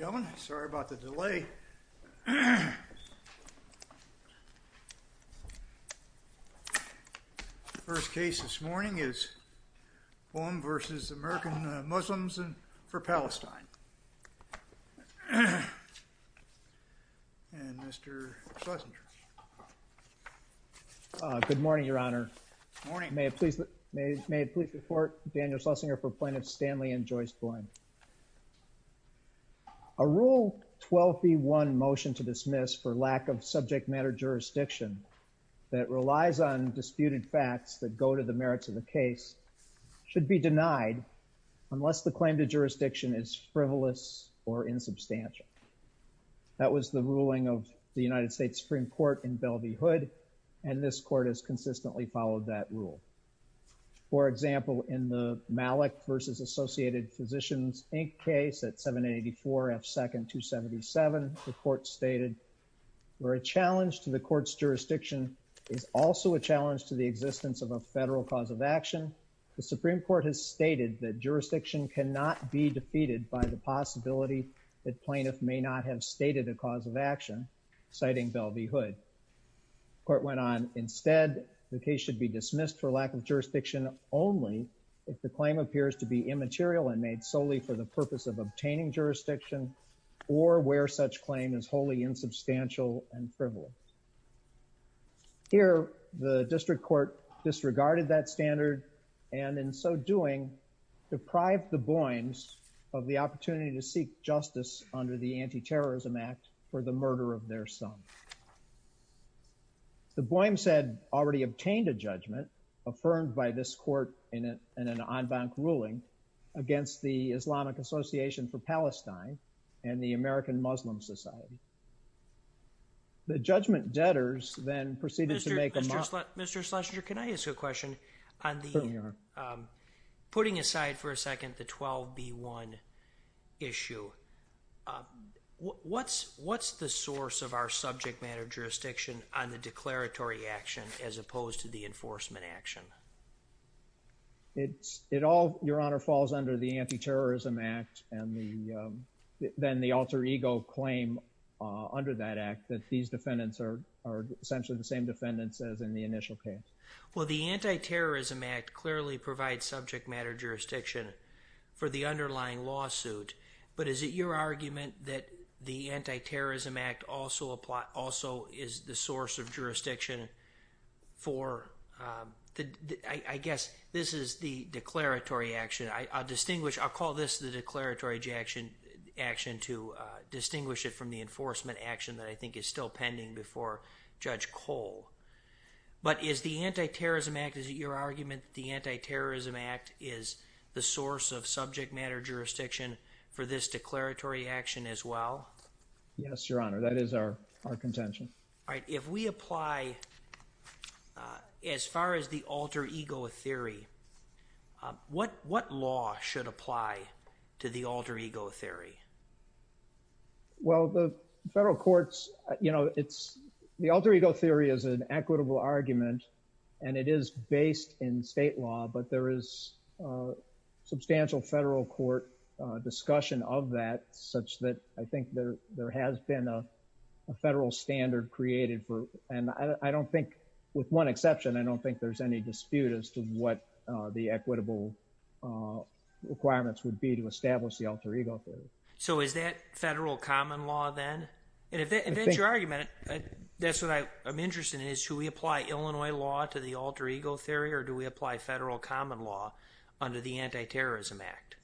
Ladies and gentlemen, sorry about the delay. First case this morning is Boim v. American Muslims for Palestine. And Mr. Schlesinger. Good morning, Your Honor. Good morning. May it please the Court, Daniel Schlesinger for Plaintiffs Stanley and Joyce Boim. A Rule 12b-1 motion to dismiss for lack of subject matter jurisdiction that relies on disputed facts that go to the merits of the case should be denied unless the claim to jurisdiction is frivolous or insubstantial. That was the ruling of the United States Supreme Court in Belle v. Hood and this Court has consistently followed that rule. For example, in the Malik v. Associated Physicians Inc. case at 784 F. 2nd 277, the Court stated, where a challenge to the Court's jurisdiction is also a challenge to the existence of a federal cause of action, the Supreme Court has stated that jurisdiction cannot be defeated by the possibility that plaintiff may not have stated a cause of action, citing Belle v. Hood. The Court went on, instead, the case should be dismissed for lack of jurisdiction only if the claim appears to be immaterial and made solely for the purpose of obtaining jurisdiction or where such claim is wholly insubstantial and frivolous. Here, the District Court disregarded that standard and in so doing, deprived the Boims of the opportunity to seek justice under the Anti-Terrorism Act for the murder of their son. The Boims had already obtained a judgment affirmed by this Court in an en banc ruling against the Islamic Association for Palestine and the American Muslim Society. The judgment debtors then proceeded to make a... Mr. Schlesinger, can I ask you a question? Certainly, Your Honor. Putting aside for a second the 12B1 issue, what's the source of our subject matter jurisdiction on the declaratory action as opposed to the enforcement action? It all, Your Honor, falls under the Anti-Terrorism Act and then the alter ego claim under that act that these defendants are essentially the same defendants as in the initial case. Well, the Anti-Terrorism Act clearly provides subject matter jurisdiction for the underlying lawsuit, but is it your argument that the Anti-Terrorism Act also is the source of jurisdiction for... I guess this is the declaratory action. I'll call this the declaratory action to distinguish it from the enforcement action that I think is still pending before Judge Cole. But is the Anti-Terrorism Act, is it your argument that the Anti-Terrorism Act is the source of subject matter jurisdiction for this declaratory action as well? Yes, Your Honor, that is our contention. All right, if we apply, as far as the alter ego theory, what law should apply to the alter ego theory? Well, the federal courts, you know, the alter ego theory is an equitable argument and it is based in state law, but there is substantial federal court discussion of that such that I think there has been a federal standard created for... And I don't think, with one exception, I don't think there's any dispute as to what the equitable requirements would be to establish the alter ego theory. So is that federal common law then? And if that's your argument, that's what I'm interested in, is should we apply Illinois law to the alter ego theory or do we apply federal common law under the Anti-Terrorism Act?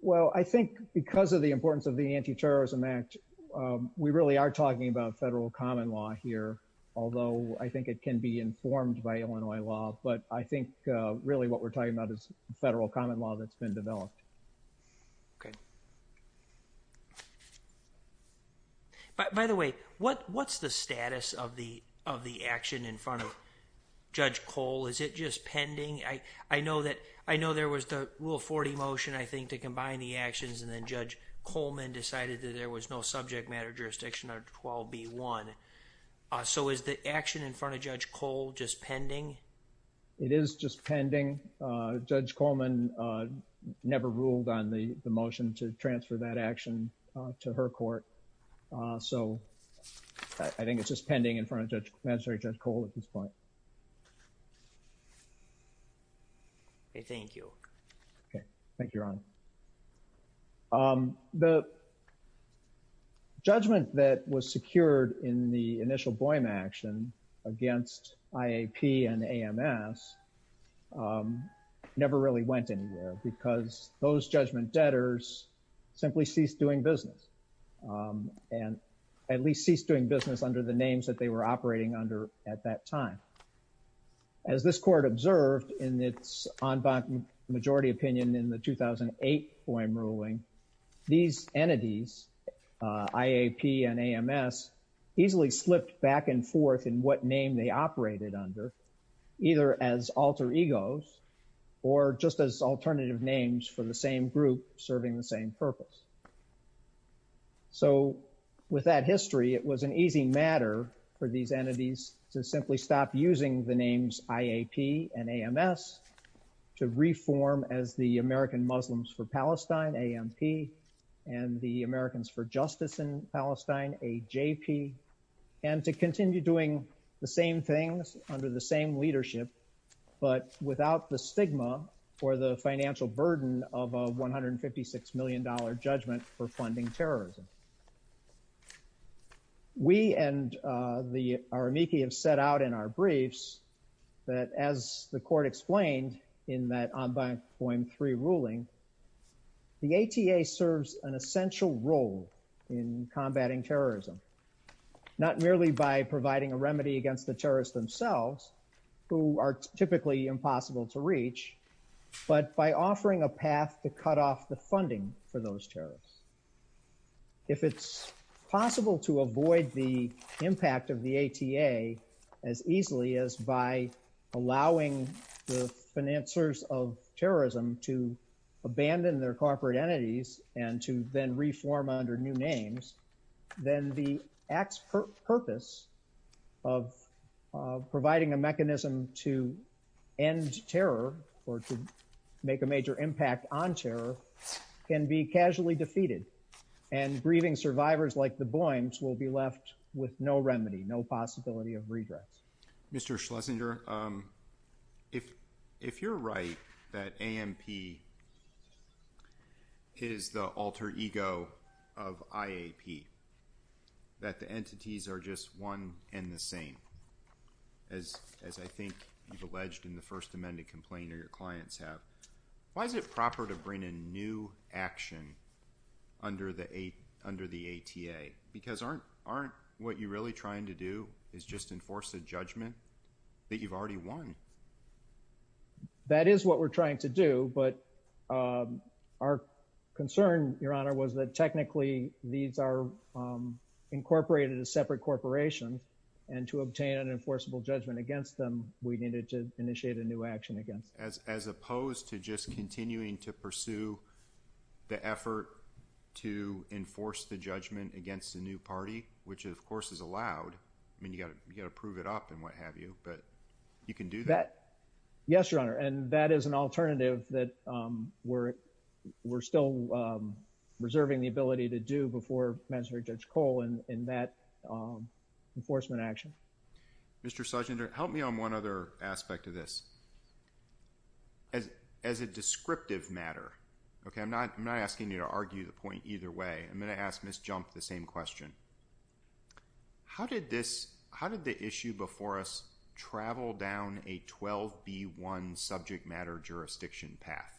Well, I think because of the importance of the Anti-Terrorism Act, we really are talking about federal common law here, although I think it can be informed by Illinois law, but I think really what we're talking about is federal common law that's been developed. Okay. By the way, what's the status of the action in front of Judge Cole? Is it just pending? I know there was the Rule 40 motion, I think, to combine the actions and then Judge Coleman decided that there was no subject matter jurisdiction under 12b.1. So is the action in front of Judge Cole just pending? It is just pending. Judge Coleman never ruled on the motion to transfer that action to her court. So I think it's just pending in front of Magistrate Judge Cole at this point. Okay. Thank you. Okay. Thank you, Your Honor. The judgment that was secured in the initial blame action against IAP and AMS never really went anywhere because those judgment debtors simply ceased doing business and at least ceased doing business under the names that they were operating under at that time. As this court observed in its en banc majority opinion in the 2008 Boehm ruling, these entities, IAP and AMS, easily slipped back and forth in what name they operated under, either as alter egos or just as alternative names for the same group serving the same purpose. So with that history, it was an easy matter for these entities to simply stop using the names IAP and AMS to reform as the American Muslims for Palestine, AMP, and the Americans for Justice in Palestine, AJP, and to continue doing the same things under the same leadership but without the stigma or the financial burden of a $156 million judgment for funding terrorism. We and the Aramiki have set out in our briefs that as the court explained in that en banc Boehm III ruling, the ATA serves an essential role in combating terrorism, not merely by providing a remedy against the terrorists themselves, who are typically impossible to reach, but by offering a path to cut off the funding for those terrorists. If it's possible to avoid the impact of the ATA as easily as by allowing the financiers of terrorism to abandon their corporate entities and to then reform under new names, then the ACT's purpose of providing a mechanism to end terror or to make a major impact on terror can be casually defeated, and grieving survivors like the Boehms will be left with no remedy, no possibility of redress. Mr. Schlesinger, if you're right that AMP is the alter ego of IAP, that the entities are just one and the same, as I think you've alleged in the first amended complaint or your clients have, why is it proper to bring in new action under the ATA? Because aren't what you're really trying to do is just enforce a judgment that you've already won? That is what we're trying to do, but our concern, Your Honor, was that technically these are incorporated as separate corporations, and to obtain an enforceable judgment against them, we needed to initiate a new action against them. As opposed to just continuing to pursue the effort to enforce the judgment against the new party, which of course is allowed. I mean, you've got to prove it up and what have you, but you can do that. Yes, Your Honor, and that is an alternative that we're still reserving the ability to do before magistrate Judge Cole in that enforcement action. Mr. Schlesinger, help me on one other aspect of this. As a descriptive matter, okay, I'm not asking you to argue the point either way. I'm going to ask Ms. Jump the same question. How did the issue before us travel down a 12B1 subject matter jurisdiction path?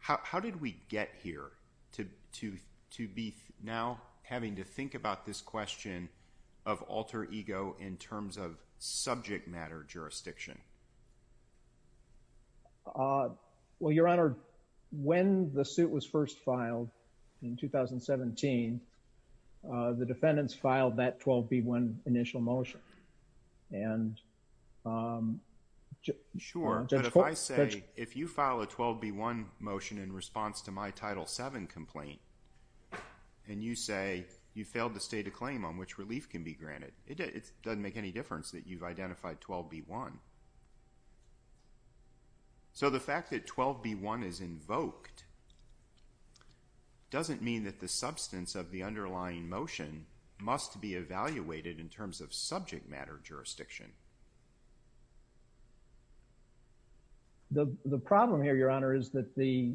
How did we get here to be now having to think about this question of alter ego in terms of subject matter jurisdiction? Well, Your Honor, when the suit was first filed in 2017, the defendants filed that 12B1 initial motion. Sure, but if I say, if you file a 12B1 motion in response to my Title VII complaint, and you say you failed to state a claim on which relief can be granted, it doesn't make any difference that you've identified 12B1. So the fact that 12B1 is invoked doesn't mean that the substance of the underlying motion must be evaluated in terms of subject matter jurisdiction. The problem here, Your Honor, is that the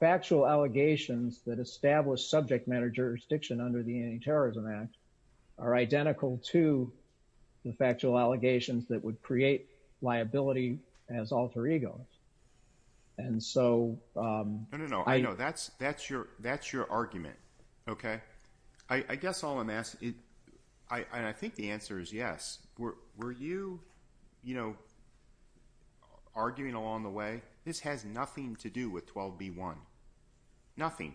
factual allegations that establish subject matter jurisdiction under the Anti-Terrorism Act are identical to the factual allegations that would create liability as alter egos. No, no, no. I know. That's your argument, okay? I guess all I'm asking, and I think the answer is yes, were you, you know, arguing along the way, this has nothing to do with 12B1. Nothing.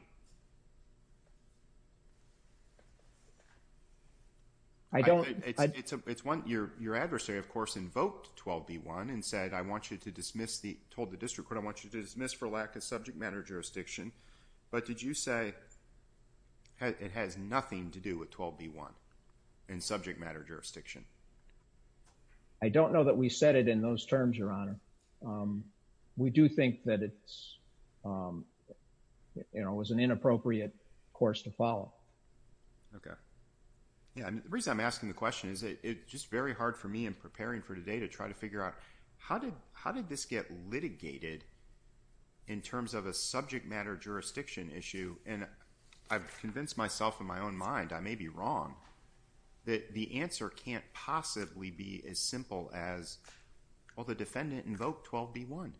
I don't. It's one, your adversary, of course, invoked 12B1 and said, I want you to dismiss the, told the district court, I want you to dismiss for lack of subject matter jurisdiction. But did you say it has nothing to do with 12B1 in subject matter jurisdiction? I don't know that we said it in those terms, Your Honor. We do think that it's, you know, it was an inappropriate course to follow. Okay. Yeah. The reason I'm asking the question is it's just very hard for me in preparing for today to try to figure out how did, how did this get litigated in terms of a subject matter jurisdiction issue? And I've convinced myself in my own mind, I may be wrong, that the answer can't possibly be as simple as, well, the defendant invoked 12B1.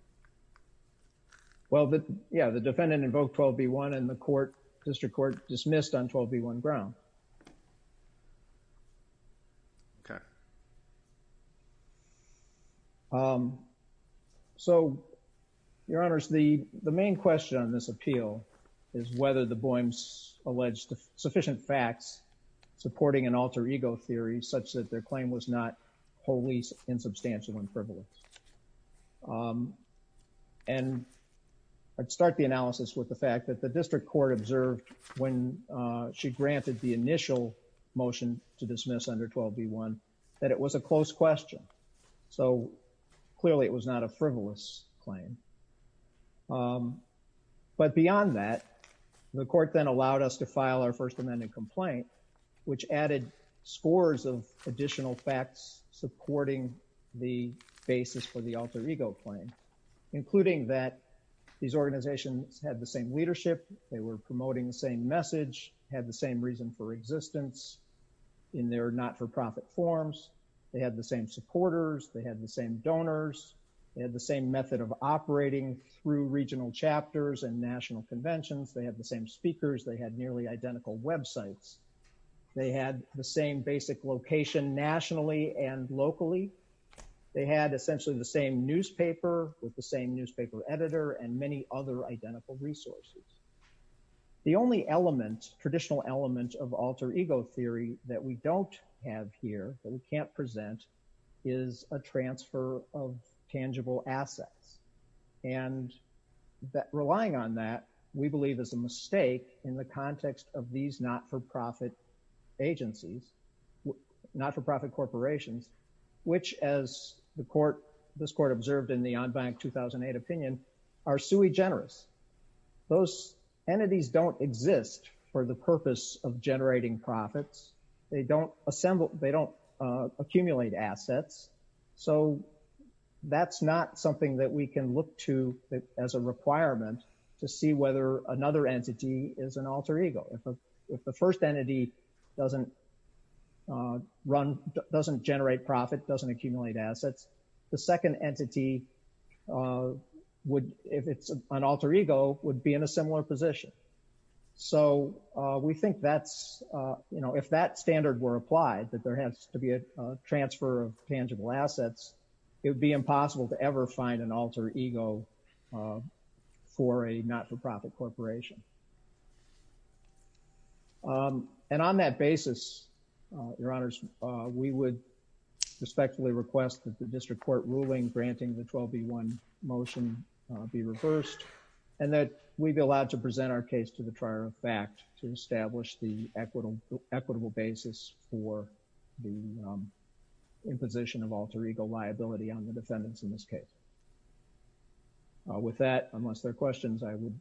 Well, yeah, the defendant invoked 12B1 and the court, district court dismissed on 12B1 ground. Okay. So, Your Honors, the main question on this appeal is whether the Boehms alleged sufficient facts supporting an alter ego theory such that their claim was not wholly insubstantial and frivolous. And I'd start the analysis with the fact that the district court observed when she granted the initial motion to dismiss under 12B1 that it was a close question. So clearly it was not a frivolous claim. But beyond that, the court then allowed us to file our First Amendment complaint, which added scores of additional facts, supporting the basis for the alter ego claim, including that these organizations had the same leadership. They were promoting the same message, had the same reason for existence in their not-for-profit forms. They had the same supporters. They had the same donors. They had the same method of operating through regional chapters and national conventions. They had the same speakers. They had nearly identical websites. They had the same basic location nationally and locally. They had essentially the same newspaper with the same newspaper editor and many other identical resources. The only element, traditional element of alter ego theory that we don't have here, that we can't present, is a transfer of tangible assets. And relying on that, we believe is a mistake in the context of these not-for-profit agencies, not-for-profit corporations, which, as this court observed in the On Bank 2008 opinion, are sui generis. Those entities don't exist for the purpose of generating profits. They don't accumulate assets. So that's not something that we can look to as a requirement to see whether another entity is an alter ego. If the first entity doesn't run, doesn't generate profit, doesn't accumulate assets, the second entity would, if it's an alter ego, would be in a similar position. So we think that's, you know, if that standard were applied, that there has to be a transfer of tangible assets, it would be impossible to ever find an alter ego for a not-for-profit corporation. And on that basis, Your Honors, we would respectfully request that the district court ruling granting the 12B1 motion be reversed and that we be allowed to present our case to the And that would be a reasonable basis for the imposition of alter ego liability on the defendants in this case. With that, unless there are questions, I would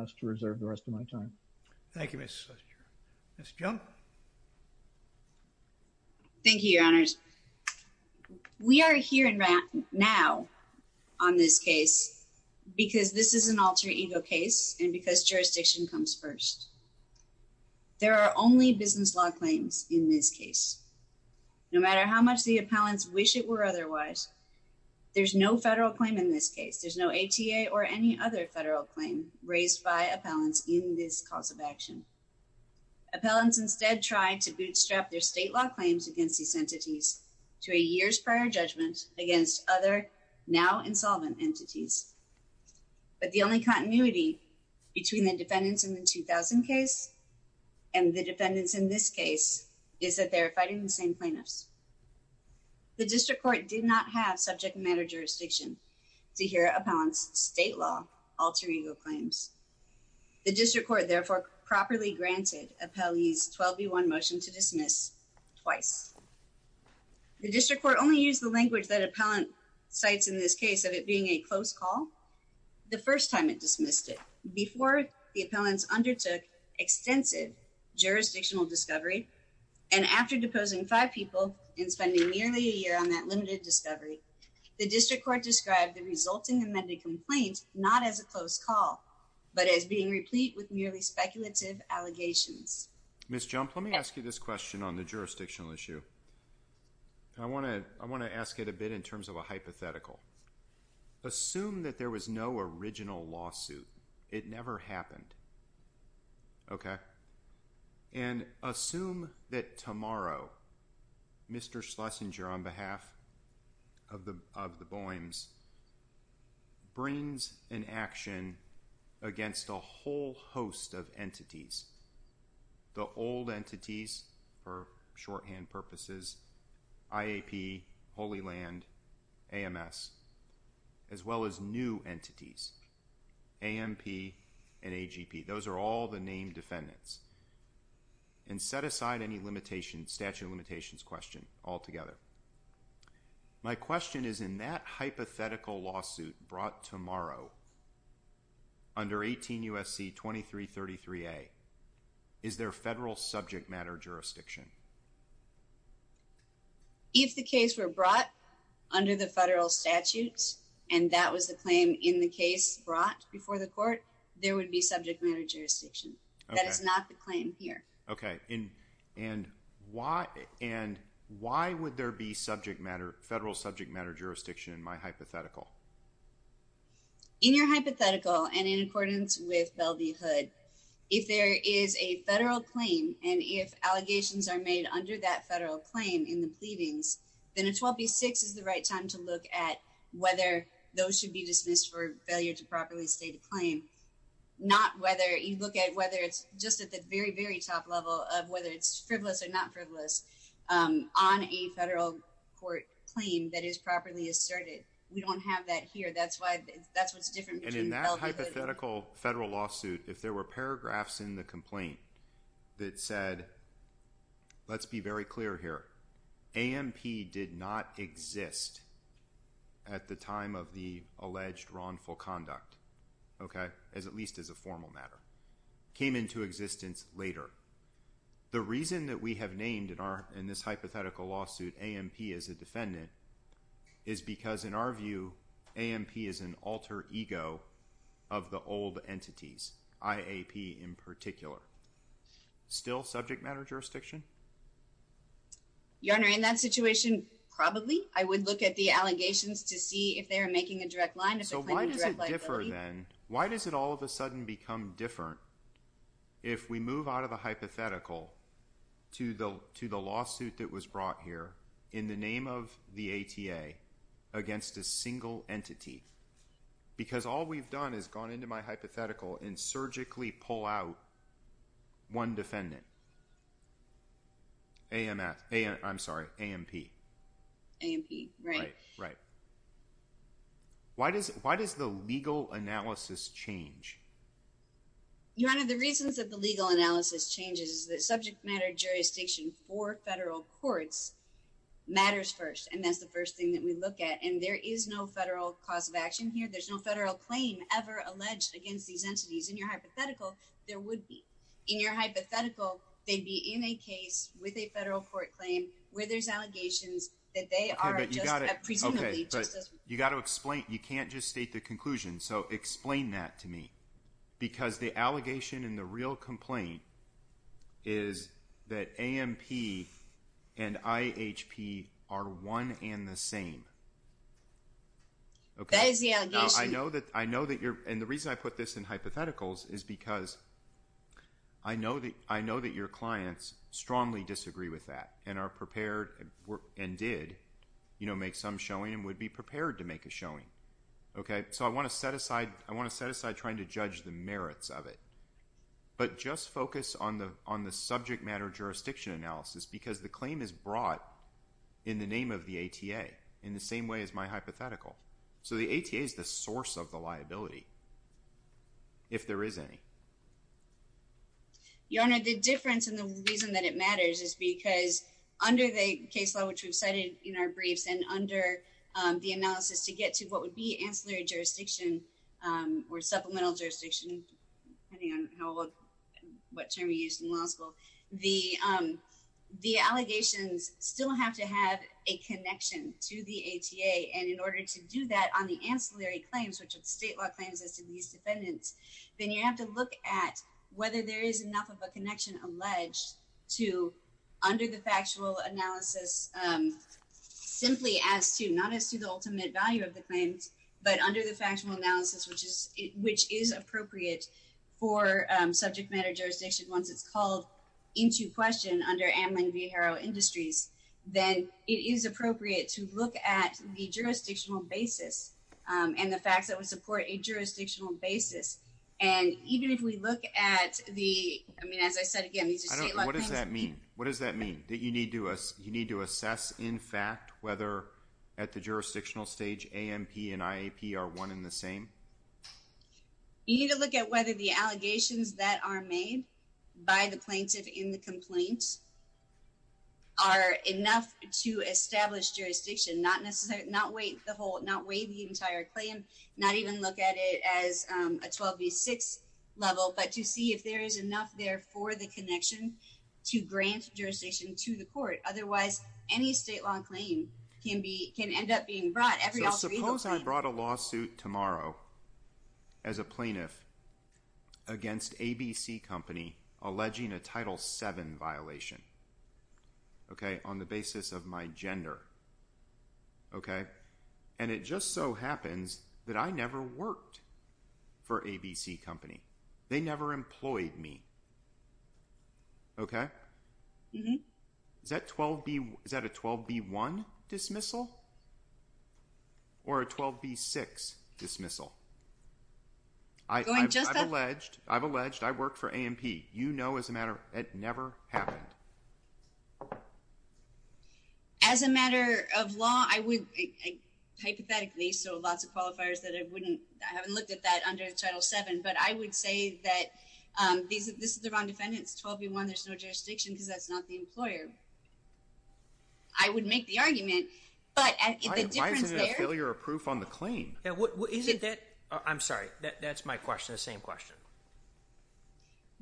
ask to reserve the rest of my time. Thank you, Mr. Slicer. Ms. Junk? Thank you, Your Honors. We are here and right now on this case because this is an alter ego case and because jurisdiction comes first. There are only business law claims in this case. No matter how much the appellants wish it were otherwise, there's no federal claim in this case. There's no ATA or any other federal claim raised by appellants in this cause of action. Appellants instead tried to bootstrap their state law claims against these entities to a year's prior judgment against other now insolvent entities. But the only continuity between the defendants in the 2000 case and the defendants in this case is that they're fighting the same plaintiffs. The district court did not have subject matter jurisdiction to hear appellants state law alter ego claims. The district court therefore properly granted appellees 12B1 motion to dismiss twice. The district court only used the language that appellant cites in this case of it being a close call the first time it dismissed it before the appellants undertook extensive jurisdictional discovery. And after deposing five people and spending nearly a year on that limited discovery, the district court described the resulting amended complaints, not as a close call, but as being replete with nearly speculative allegations. Ms. Jump, let me ask you this question on the jurisdictional issue. I want to, I want to ask it a bit in terms of a hypothetical. Assume that there was no original lawsuit. It never happened. Okay. And assume that tomorrow, Mr. Schlesinger on behalf of the, of the volumes brings an action against a whole host of entities. The old entities for shorthand purposes, IAP, Holy land, AMS, as well as new entities, AMP and AGP. Those are all the name defendants. And set aside any limitation statute limitations question altogether. My question is in that hypothetical lawsuit brought tomorrow. Under 18 USC 2333. A is there a federal subject matter jurisdiction. If the case were brought under the federal statutes and that was the claim in the case brought before the court, there would be subject matter jurisdiction. That is not the claim here. Okay. And why, and why would there be subject matter, federal subject matter jurisdiction in my hypothetical. In your hypothetical. And in accordance with Bell, the hood, if there is a federal claim, and if allegations are made under that federal claim in the pleadings, then it's 12, be six is the right time to look at whether those should be dismissed for failure to properly state a claim. Not whether you look at whether it's just at the very, very top level of whether it's frivolous or not frivolous on a federal court claim that is properly asserted. We don't have that here. That's why that's what's different. And in that hypothetical federal lawsuit, if there were paragraphs in the complaint that said, let's be very clear here. AMP did not exist at the time of the alleged wrongful conduct. Okay. As at least as a formal matter came into existence later. The reason that we have named in our, in this hypothetical lawsuit, AMP as a defendant is because in our view, AMP is an alter ego of the old entities. IAP in particular, still subject matter jurisdiction. Your honor in that situation, probably I would look at the allegations to see if they are making a direct line. So why does it differ then? Why does it all of a sudden become different? If we move out of the hypothetical to the, to the lawsuit that was brought here in the name of the ATA against a single entity, because all we've done is gone into my hypothetical and surgically pull out one defendant. AMS. I'm sorry. AMP. Right. Right. Why does, why does the legal analysis change? Your honor, the reasons that the legal analysis changes, the subject matter jurisdiction for federal courts matters first. And that's the first thing that we look at. And there is no federal cause of action here. There's no federal claim ever alleged against these entities in your hypothetical. There would be in your hypothetical, they'd be in a case with a federal court claim where there's allegations that they are, but you got it. Okay. You got to explain, you can't just state the conclusion. So explain that to me because the allegation and the real complaint is that AMP and IHP are one and the same. Okay. I know that, I know that you're, and the reason I put this in hypotheticals is because I know that I know that your clients strongly disagree with that and are prepared and did, you know, make some showing and would be prepared to make a showing. Okay. So I want to set aside, I want to set aside trying to judge the merits of it, but just focus on the, on the subject matter jurisdiction analysis, because the claim is brought in the name of the ATA in the same way as my hypothetical. So the ATA is the source of the liability. If there is any. Your Honor, the difference in the reason that it matters is because under the case law, which we've cited in our briefs and under the analysis to get to what would be ancillary jurisdiction or supplemental jurisdiction, depending on what term we used in law school, the, the allegations still have to have a connection to the ATA. And in order to do that on the ancillary claims, which would state law claims as to these defendants, then you have to look at whether there is enough of a connection alleged to under the factual analysis, simply as to not as to the ultimate value of the claims, but under the factional analysis, which is, which is appropriate for subject matter jurisdiction. Once it's called into question under Amblin Viejo Industries, then it is appropriate to look at the jurisdictional basis. And the facts that would support a jurisdictional basis. And even if we look at the, I mean, as I said, again, what does that mean? What does that mean that you need to us? You need to assess in fact, whether at the jurisdictional stage, AMP and IAP are one in the same. You need to look at whether the allegations that are made by the plaintiff in the complaints are enough to establish jurisdiction, not necessarily, not wait the whole, not wait the entire claim, not even look at it as a 12 V six level, but to see if there is enough there for the connection to grant jurisdiction to the court. Otherwise any state law claim can be, can end up being brought. I brought a lawsuit tomorrow as a plaintiff against ABC company, alleging a title seven violation. Okay. On the basis of my gender. Okay. And it just so happens that I never worked for ABC company. They never employed me. Okay. Is that 12 B is that a 12 B one dismissal or a 12 B six dismissal? I've alleged I've alleged I worked for AMP, you know, as a matter, it never happened. As a matter of law, I would hypothetically. So lots of qualifiers that it wouldn't, I haven't looked at that under the title seven, but I would say that these, this is the wrong defendants 12 B one. There's no jurisdiction. Cause that's not the employer. I would make the argument, but I feel you're a proof on the claim. What is it that I'm sorry, that, that's my question. The same question.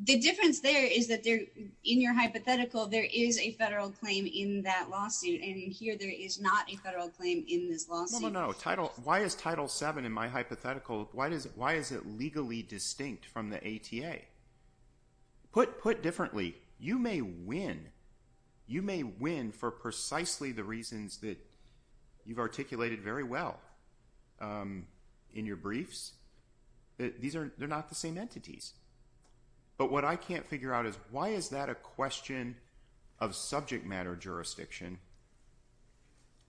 The difference there is that there in your hypothetical, there is a federal claim in that lawsuit. And here there is not a federal claim in this law. No title. Why is title seven in my hypothetical? Why does it, why is it legally distinct from the ATA put put differently? You may win. You may win for precisely the reasons that you've articulated very well. In your briefs, these are, they're not the same entities, but what I can't figure out is why is that a question of subject matter jurisdiction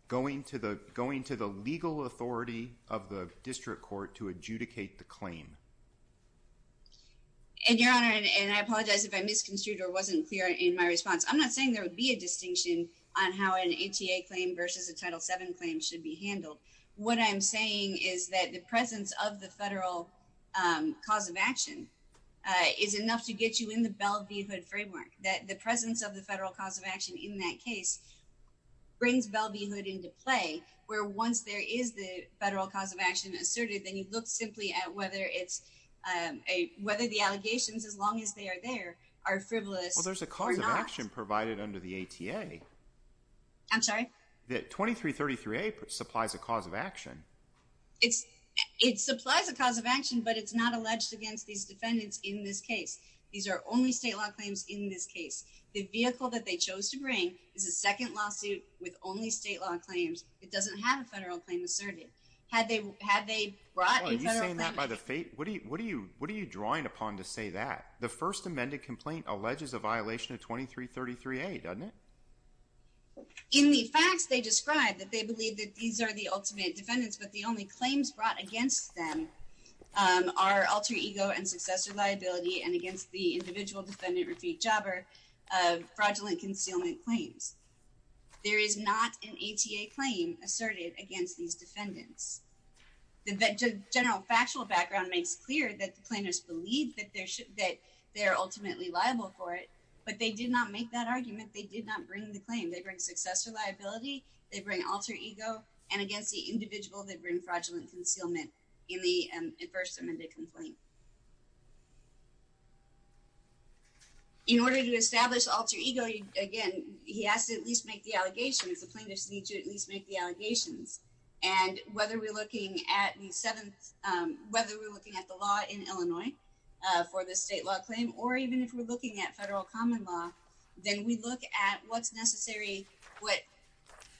going to the, the legal authority of the district court to adjudicate the claim. And your honor. And I apologize if I misconstrued or wasn't clear in my response. I'm not saying there would be a distinction on how an ATA claim versus a title seven claim should be handled. What I'm saying is that the presence of the federal cause of action is enough to get you in the Bellevue hood framework, that the presence of the federal cause of action in that case brings Bellevue hood into play where once there is the federal cause of action asserted, then you look simply at whether it's a, whether the allegations as long as they are, there are frivolous. Well, there's a cause of action provided under the ATA. I'm sorry. That 2333A supplies a cause of action. It's it supplies a cause of action, but it's not alleged against these defendants in this case. These are only state law claims in this case. The vehicle that they chose to bring is a second lawsuit with only state law claims. It doesn't have a federal claim asserted. Had they, had they brought by the fate? What do you, what do you, what are you drawing upon to say that the first amended complaint alleges a violation of 2333A doesn't it? In the facts, they described that they believe that these are the ultimate defendants, but the only claims brought against them are alter ego and fraudulent concealment claims. There is not an ATA claim asserted against these defendants. The general factual background makes clear that the plaintiffs believe that there should, that they're ultimately liable for it, but they did not make that argument. They did not bring the claim. They bring successor liability. They bring alter ego and against the individual that bring fraudulent concealment in the first amended complaint. In order to establish alter ego, again, he has to at least make the allegations. The plaintiffs need to at least make the allegations. And whether we're looking at the seventh, whether we're looking at the law in Illinois for the state law claim, or even if we're looking at federal common law, then we look at what's necessary. What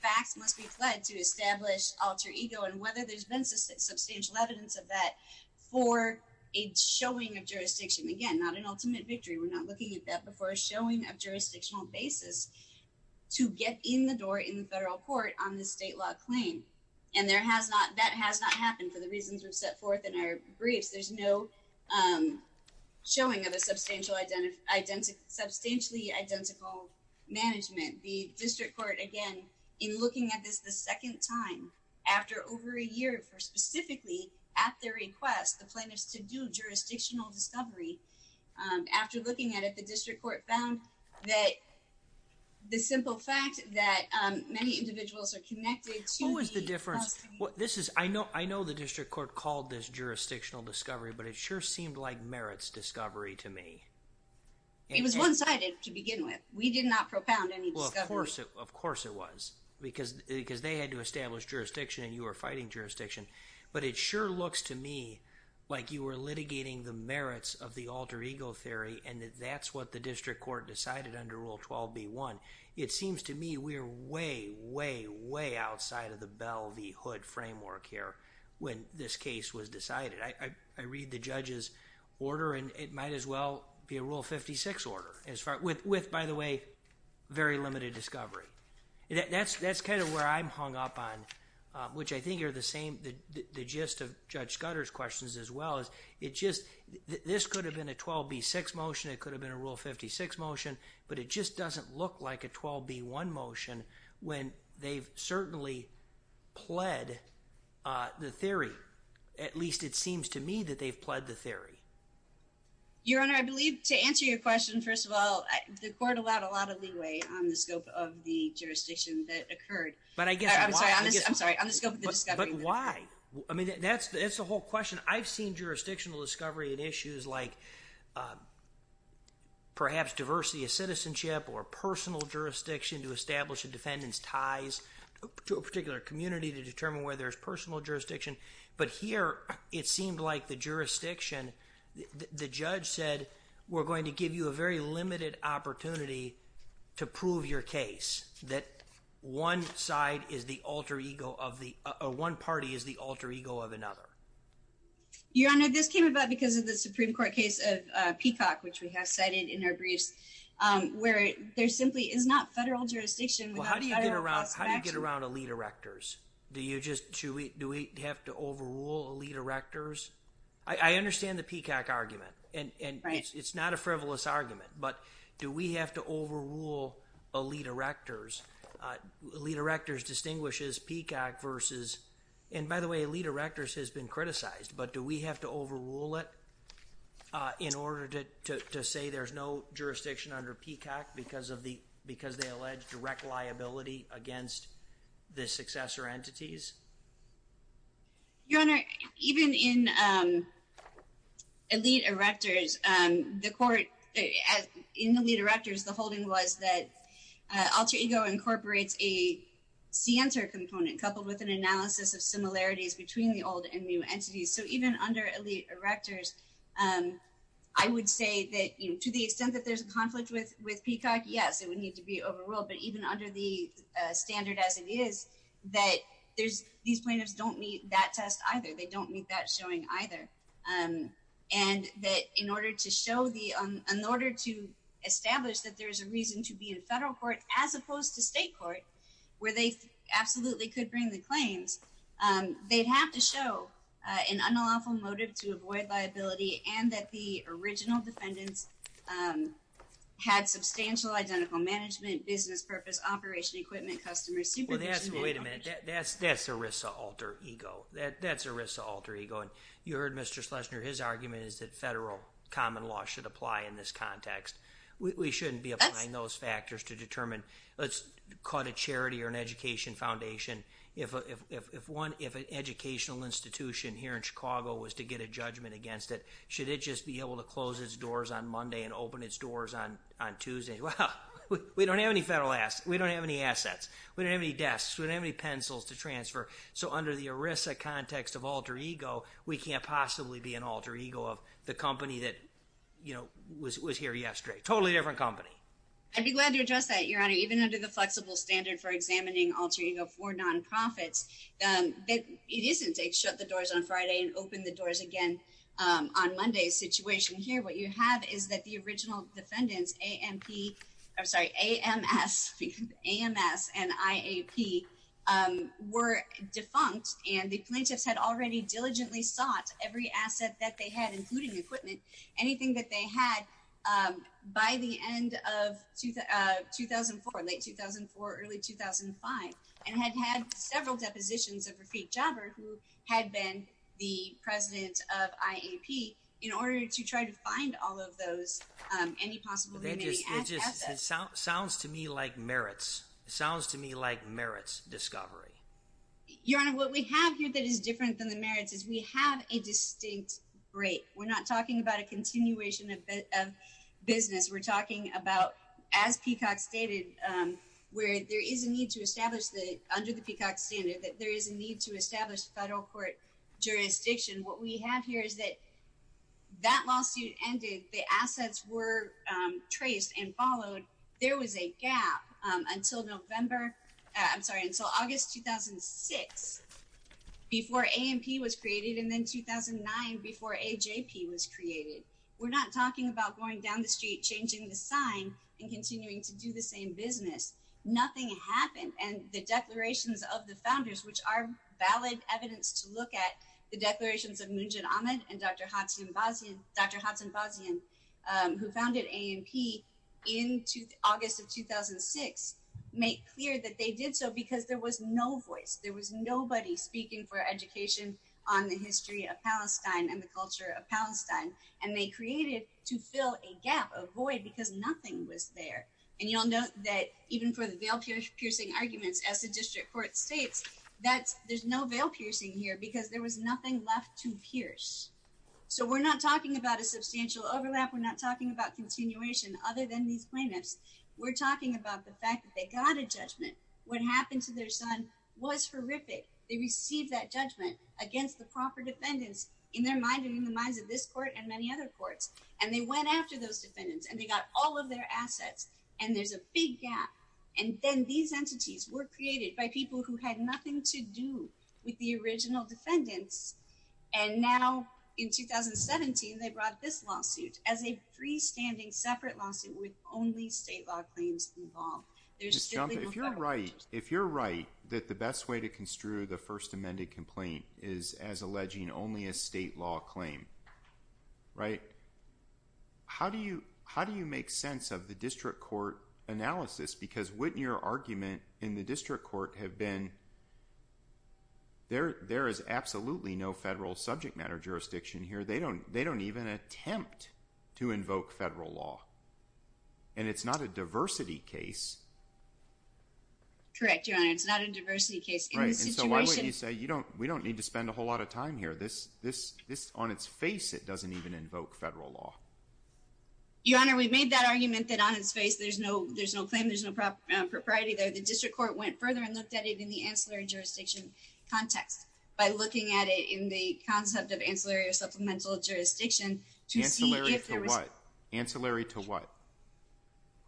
facts must be fled to establish alter ego and whether there's been substantial evidence of that for a showing of jurisdiction. Again, not an ultimate victory. We're not looking at that before a showing of jurisdictional basis to get in the door in the federal court on the state law claim. And there has not, that has not happened for the reasons we've set forth in our briefs. There's no showing of a substantial identity, substantially identical management. The district court, again, in looking at this, this is the second time after over a year for specifically at their request, the plaintiffs to do jurisdictional discovery. After looking at it, the district court found that the simple fact that many individuals are connected. Who is the difference? Well, this is, I know, I know the district court called this jurisdictional discovery, but it sure seemed like merits discovery to me. It was one sided to begin with. We did not propound any discovery. Of course it was because, because they had to establish jurisdiction and you are fighting jurisdiction, but it sure looks to me like you were litigating the merits of the alter ego theory. And that's what the district court decided under rule 12 B one. It seems to me we are way, way, way outside of the bell V hood framework here. When this case was decided, I, I, I read the judge's order and it might as well be a rule 56 order as far with, with, by the way, very limited discovery. That's, that's kind of where I'm hung up on, which I think are the same. The gist of judge gutters questions as well as it just, this could have been a 12 B six motion. It could have been a rule 56 motion, but it just doesn't look like a 12 B one motion when they've certainly pled the theory. At least it seems to me that they've pled the theory. Your Honor, I believe to answer your question, first of all, the court allowed a lot of leeway on the scope of the jurisdiction that occurred, but I guess, I'm sorry, I'm sorry. I'm just going with the discovery. But why? I mean, that's, that's the whole question. I've seen jurisdictional discovery and issues like perhaps diversity of citizenship or personal jurisdiction to establish a defendant's ties to a particular community to determine where there's personal jurisdiction. But here it seemed like the jurisdiction, the judge said we're going to give you a very limited opportunity to prove your case. That one side is the alter ego of the, or one party is the alter ego of another. Your Honor, this came about because of the Supreme court case of Peacock, which we have cited in our briefs where there simply is not federal jurisdiction. How do you get around? How do you get around elite erectors? Do you just, should we, do we have to overrule elite erectors? I understand the Peacock argument and it's not a frivolous argument, but do we have to overrule elite erectors? Elite erectors distinguishes Peacock versus, and by the way, elite erectors has been criticized, but do we have to overrule it? In order to say there's no jurisdiction under Peacock because of the, because they allege direct liability against the successor entities? Your Honor, even in elite erectors, the court in the lead directors, the holding was that alter ego incorporates a C enter component coupled with an analysis of similarities between the old and new entities. So even under elite erectors, I would say that to the extent that there's a conflict with Peacock, yes, it would need to be overruled, but even under the standard as it is, that there's these plaintiffs don't meet that test either. They don't meet that showing either. And that in order to show the, in order to establish that there's a reason to be in federal court as opposed to state court where they absolutely could bring the claims, they'd have to show an unlawful motive to avoid liability and that the management business purpose, operation, equipment, customers, supervision. Well, that's wait a minute. That's, that's a risk to alter ego. That's a risk to alter ego. And you heard Mr. Schlesinger, his argument is that federal common law should apply in this context. We shouldn't be applying those factors to determine let's call it a charity or an education foundation. If, if, if, if one, if an educational institution here in Chicago was to get a judgment against it, should it just be able to close its doors on Monday and open its doors on, on Tuesday? Well, we don't have any federal assets. We don't have any assets. We don't have any desks. We don't have any pencils to transfer. So under the ERISA context of alter ego, we can't possibly be an alter ego of the company that, you know, was, was here yesterday. Totally different company. I'd be glad to address that your honor, even under the flexible standard for examining alter ego for nonprofits, that it isn't a shut the doors on Friday and open the doors again. On Monday's situation here, what you have is that the original defendants, AMP, I'm sorry, AMS, AMS and IAP were defunct and the plaintiffs had already diligently sought every asset that they had, including equipment, anything that they had by the end of 2004, late 2004, early 2005, and had had several depositions of Rafik Jabber, who had been the president of IAP in order to try to find all of those, any possible, it just sounds to me like merits sounds to me like merits discovery. Your honor, what we have here that is different than the merits is we have a distinct break. We're not talking about a continuation of business. We're talking about as Peacock stated, where there is a need to establish the under the Peacock standard, that there is a need to establish federal court jurisdiction. What we have here is that that lawsuit ended. The assets were traced and followed. There was a gap until November. I'm sorry. And so August, 2006 before AMP was created and then 2009 before AJP was created. We're not talking about going down the street, changing the sign and continuing to do the same business. Nothing happened. And the declarations of the founders, which are valid evidence to look at the declarations of Moonjan Ahmed and Dr. Hudson Bosnia, Dr. Hudson Bosnia, who founded AMP in August of 2006, make clear that they did so because there was no voice. There was nobody speaking for education on the history of Palestine and the culture of Palestine. And they created to fill a gap of void because nothing was there. And you'll note that even for the veil piercing arguments as the district court States, that there's no veil piercing here because there was nothing left to pierce. So we're not talking about a substantial overlap. We're not talking about continuation other than these plaintiffs. We're talking about the fact that they got a judgment. What happened to their son was horrific. They received that judgment against the proper defendants in their mind and in the minds of this court and many other courts. And they went after those defendants and they got all of their assets and there's a big gap. And then these entities were created by people who had nothing to do with the original defendants. And now in 2017, they brought this lawsuit as a freestanding separate lawsuit with only state law claims involved. If you're right, if you're right, that the best way to construe the first amended complaint is as alleging only a state law claim, right? How do you, how do you make sense of the district court analysis? Because wouldn't your argument in the district court have been there? There is absolutely no federal subject matter jurisdiction here. They don't, they don't even attempt to invoke federal law and it's not a diversity case. Correct. Your Honor, it's not a diversity case. So why would you say you don't, we don't need to spend a whole lot of time here. This, this, this on its face, it doesn't even invoke federal law. Your Honor, we've made that argument that on its face, there's no, there's no claim. There's no prop propriety there. The district court went further and looked at it in the ancillary jurisdiction context by looking at it in the concept of ancillary or supplemental jurisdiction to see if there was ancillary to what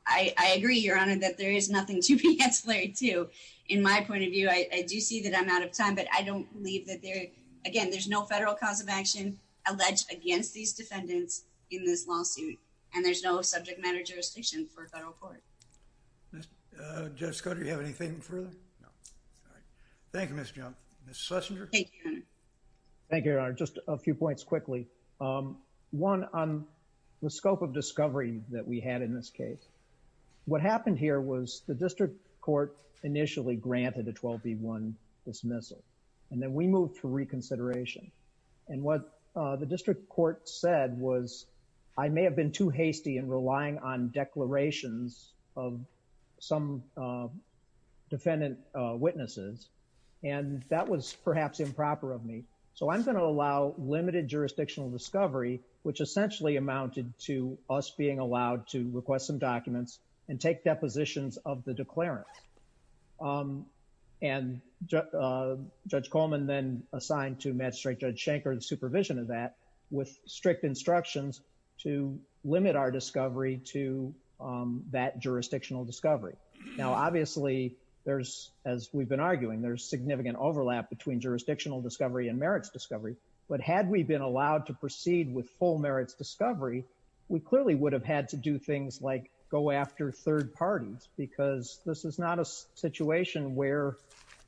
I agree. Your Honor, that there is nothing to be ancillary to, in my point of view, I do see that I'm out of time, but I don't believe that there, again, there's no federal cause of action. I think that there's no subject matter jurisdiction for federal court. I think that there's no subject matter jurisdiction for federal court. And I don't think that there's no subject matter jurisdiction for federal court. Judge scott. Do you have anything further? No. All right. Thank you, Miss Junk. Miss Schlesinger. Thank you. Thank you, Your Honor. Just a few points quickly. One on. The scope of discovery that we had in this case. What happened here was the district court initially granted a 12 B one dismissal. And then we moved for reconsideration. And what the district court said was. I may have been too hasty and relying on declarations of some. Defendant witnesses. And that was perhaps improper of me. So I'm going to allow limited jurisdictional discovery, which essentially amounted to us being allowed to request some documents and take depositions of the declarants. And judge Coleman, then assigned to magistrate judge Shanker, the supervision of that with strict instructions to limit our discovery to that jurisdictional discovery. Now, obviously there's, as we've been arguing, there's significant overlap between jurisdictional discovery and merits discovery. And I'm not saying that we should have been allowed to proceed with full merits discovery. We clearly would have had to do things like go after third parties, because this is not a situation where.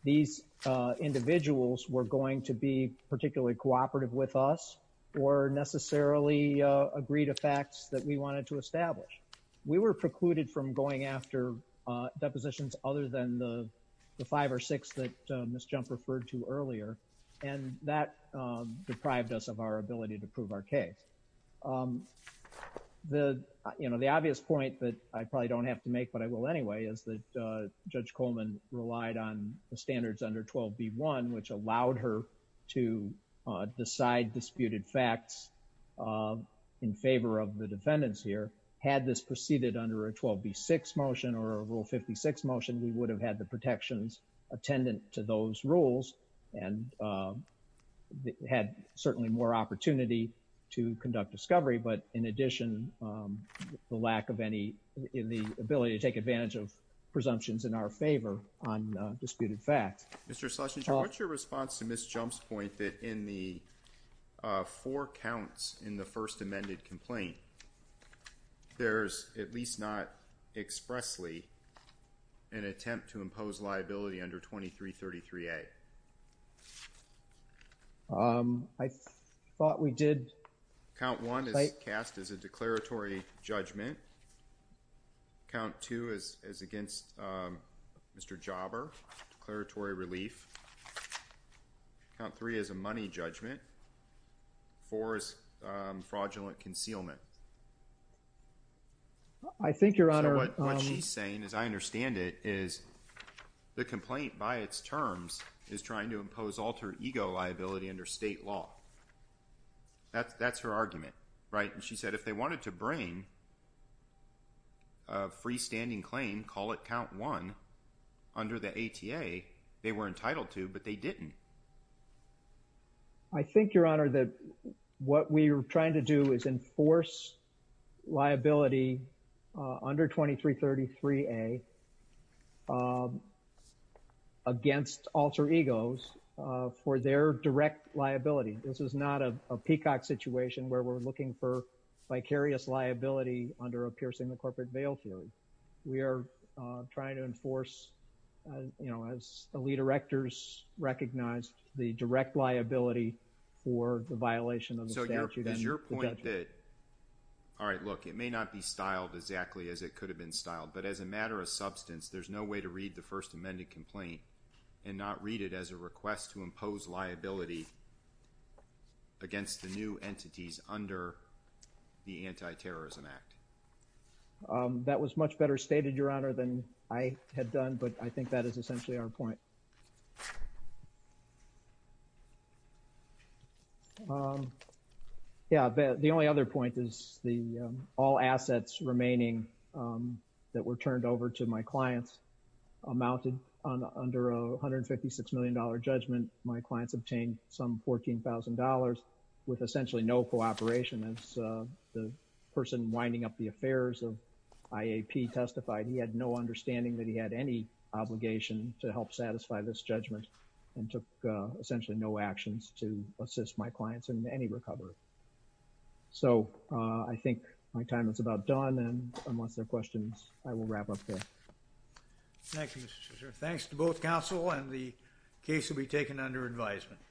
These individuals were going to be particularly cooperative with us. Or necessarily agreed to facts that we wanted to establish. We were precluded from going after. Depositions other than the. The five or six that Ms. Jump referred to earlier. And that deprived us of our ability to prove our case. The, you know, the obvious point that I probably don't have to make, but I will anyway is that judge Coleman relied on the standards under 12B1, which allowed her to decide disputed facts. In favor of the defendants here had this proceeded under a 12B6 motion or rule 56 motion, we would have had the protections attendant to those rules and had certainly more opportunity to conduct discovery. But in addition, the lack of any, in the ability to take advantage of presumptions in our favor on disputed facts. Mr. Schlesinger, what's your response to Ms. Jump's point that in the four counts in the first amended complaint, there's at least not expressly an attempt to impose liability under 2333A. I thought we did. Count one is cast as a declaratory judgment. Count two is, is against Mr. Jobber, declaratory relief count three is a money judgment for fraudulent concealment. I think your honor, what she's saying is, I understand it is the complaint by its terms is trying to impose alter ego liability under state law. That's, that's her argument, right? And she said, if they wanted to bring a freestanding claim, call it count one under the ATA, they were entitled to, but they didn't. I think your honor, that what we were trying to do is enforce liability under 2333A against alter egos for their direct liability. This is not a peacock situation where we're looking for vicarious liability under a piercing the corporate veil theory. We are trying to enforce, you know, as the lead directors recognized the direct liability for the violation of the statute. All right, look, it may not be styled exactly as it could have been styled, but as a matter of substance, there's no way to read the first amended complaint and not read it as a request to impose liability against the new entities under the anti-terrorism act. That was much better stated your honor than I had done, but I think that is essentially our point. Yeah. The only other point is the all assets remaining that were turned over to my clients amounted on under a $156 million judgment. My clients obtained some $14,000 with essentially no cooperation. As the person winding up the affairs of IAP testified, he had no understanding that he had any obligation to help satisfy this judgment and took essentially no actions to assist my clients in any recovery. So I think my time is about done and unless there are questions, I will wrap up there. Thank you, Mr. Chisholm. Thanks to both counsel and the case will be taken under advisement.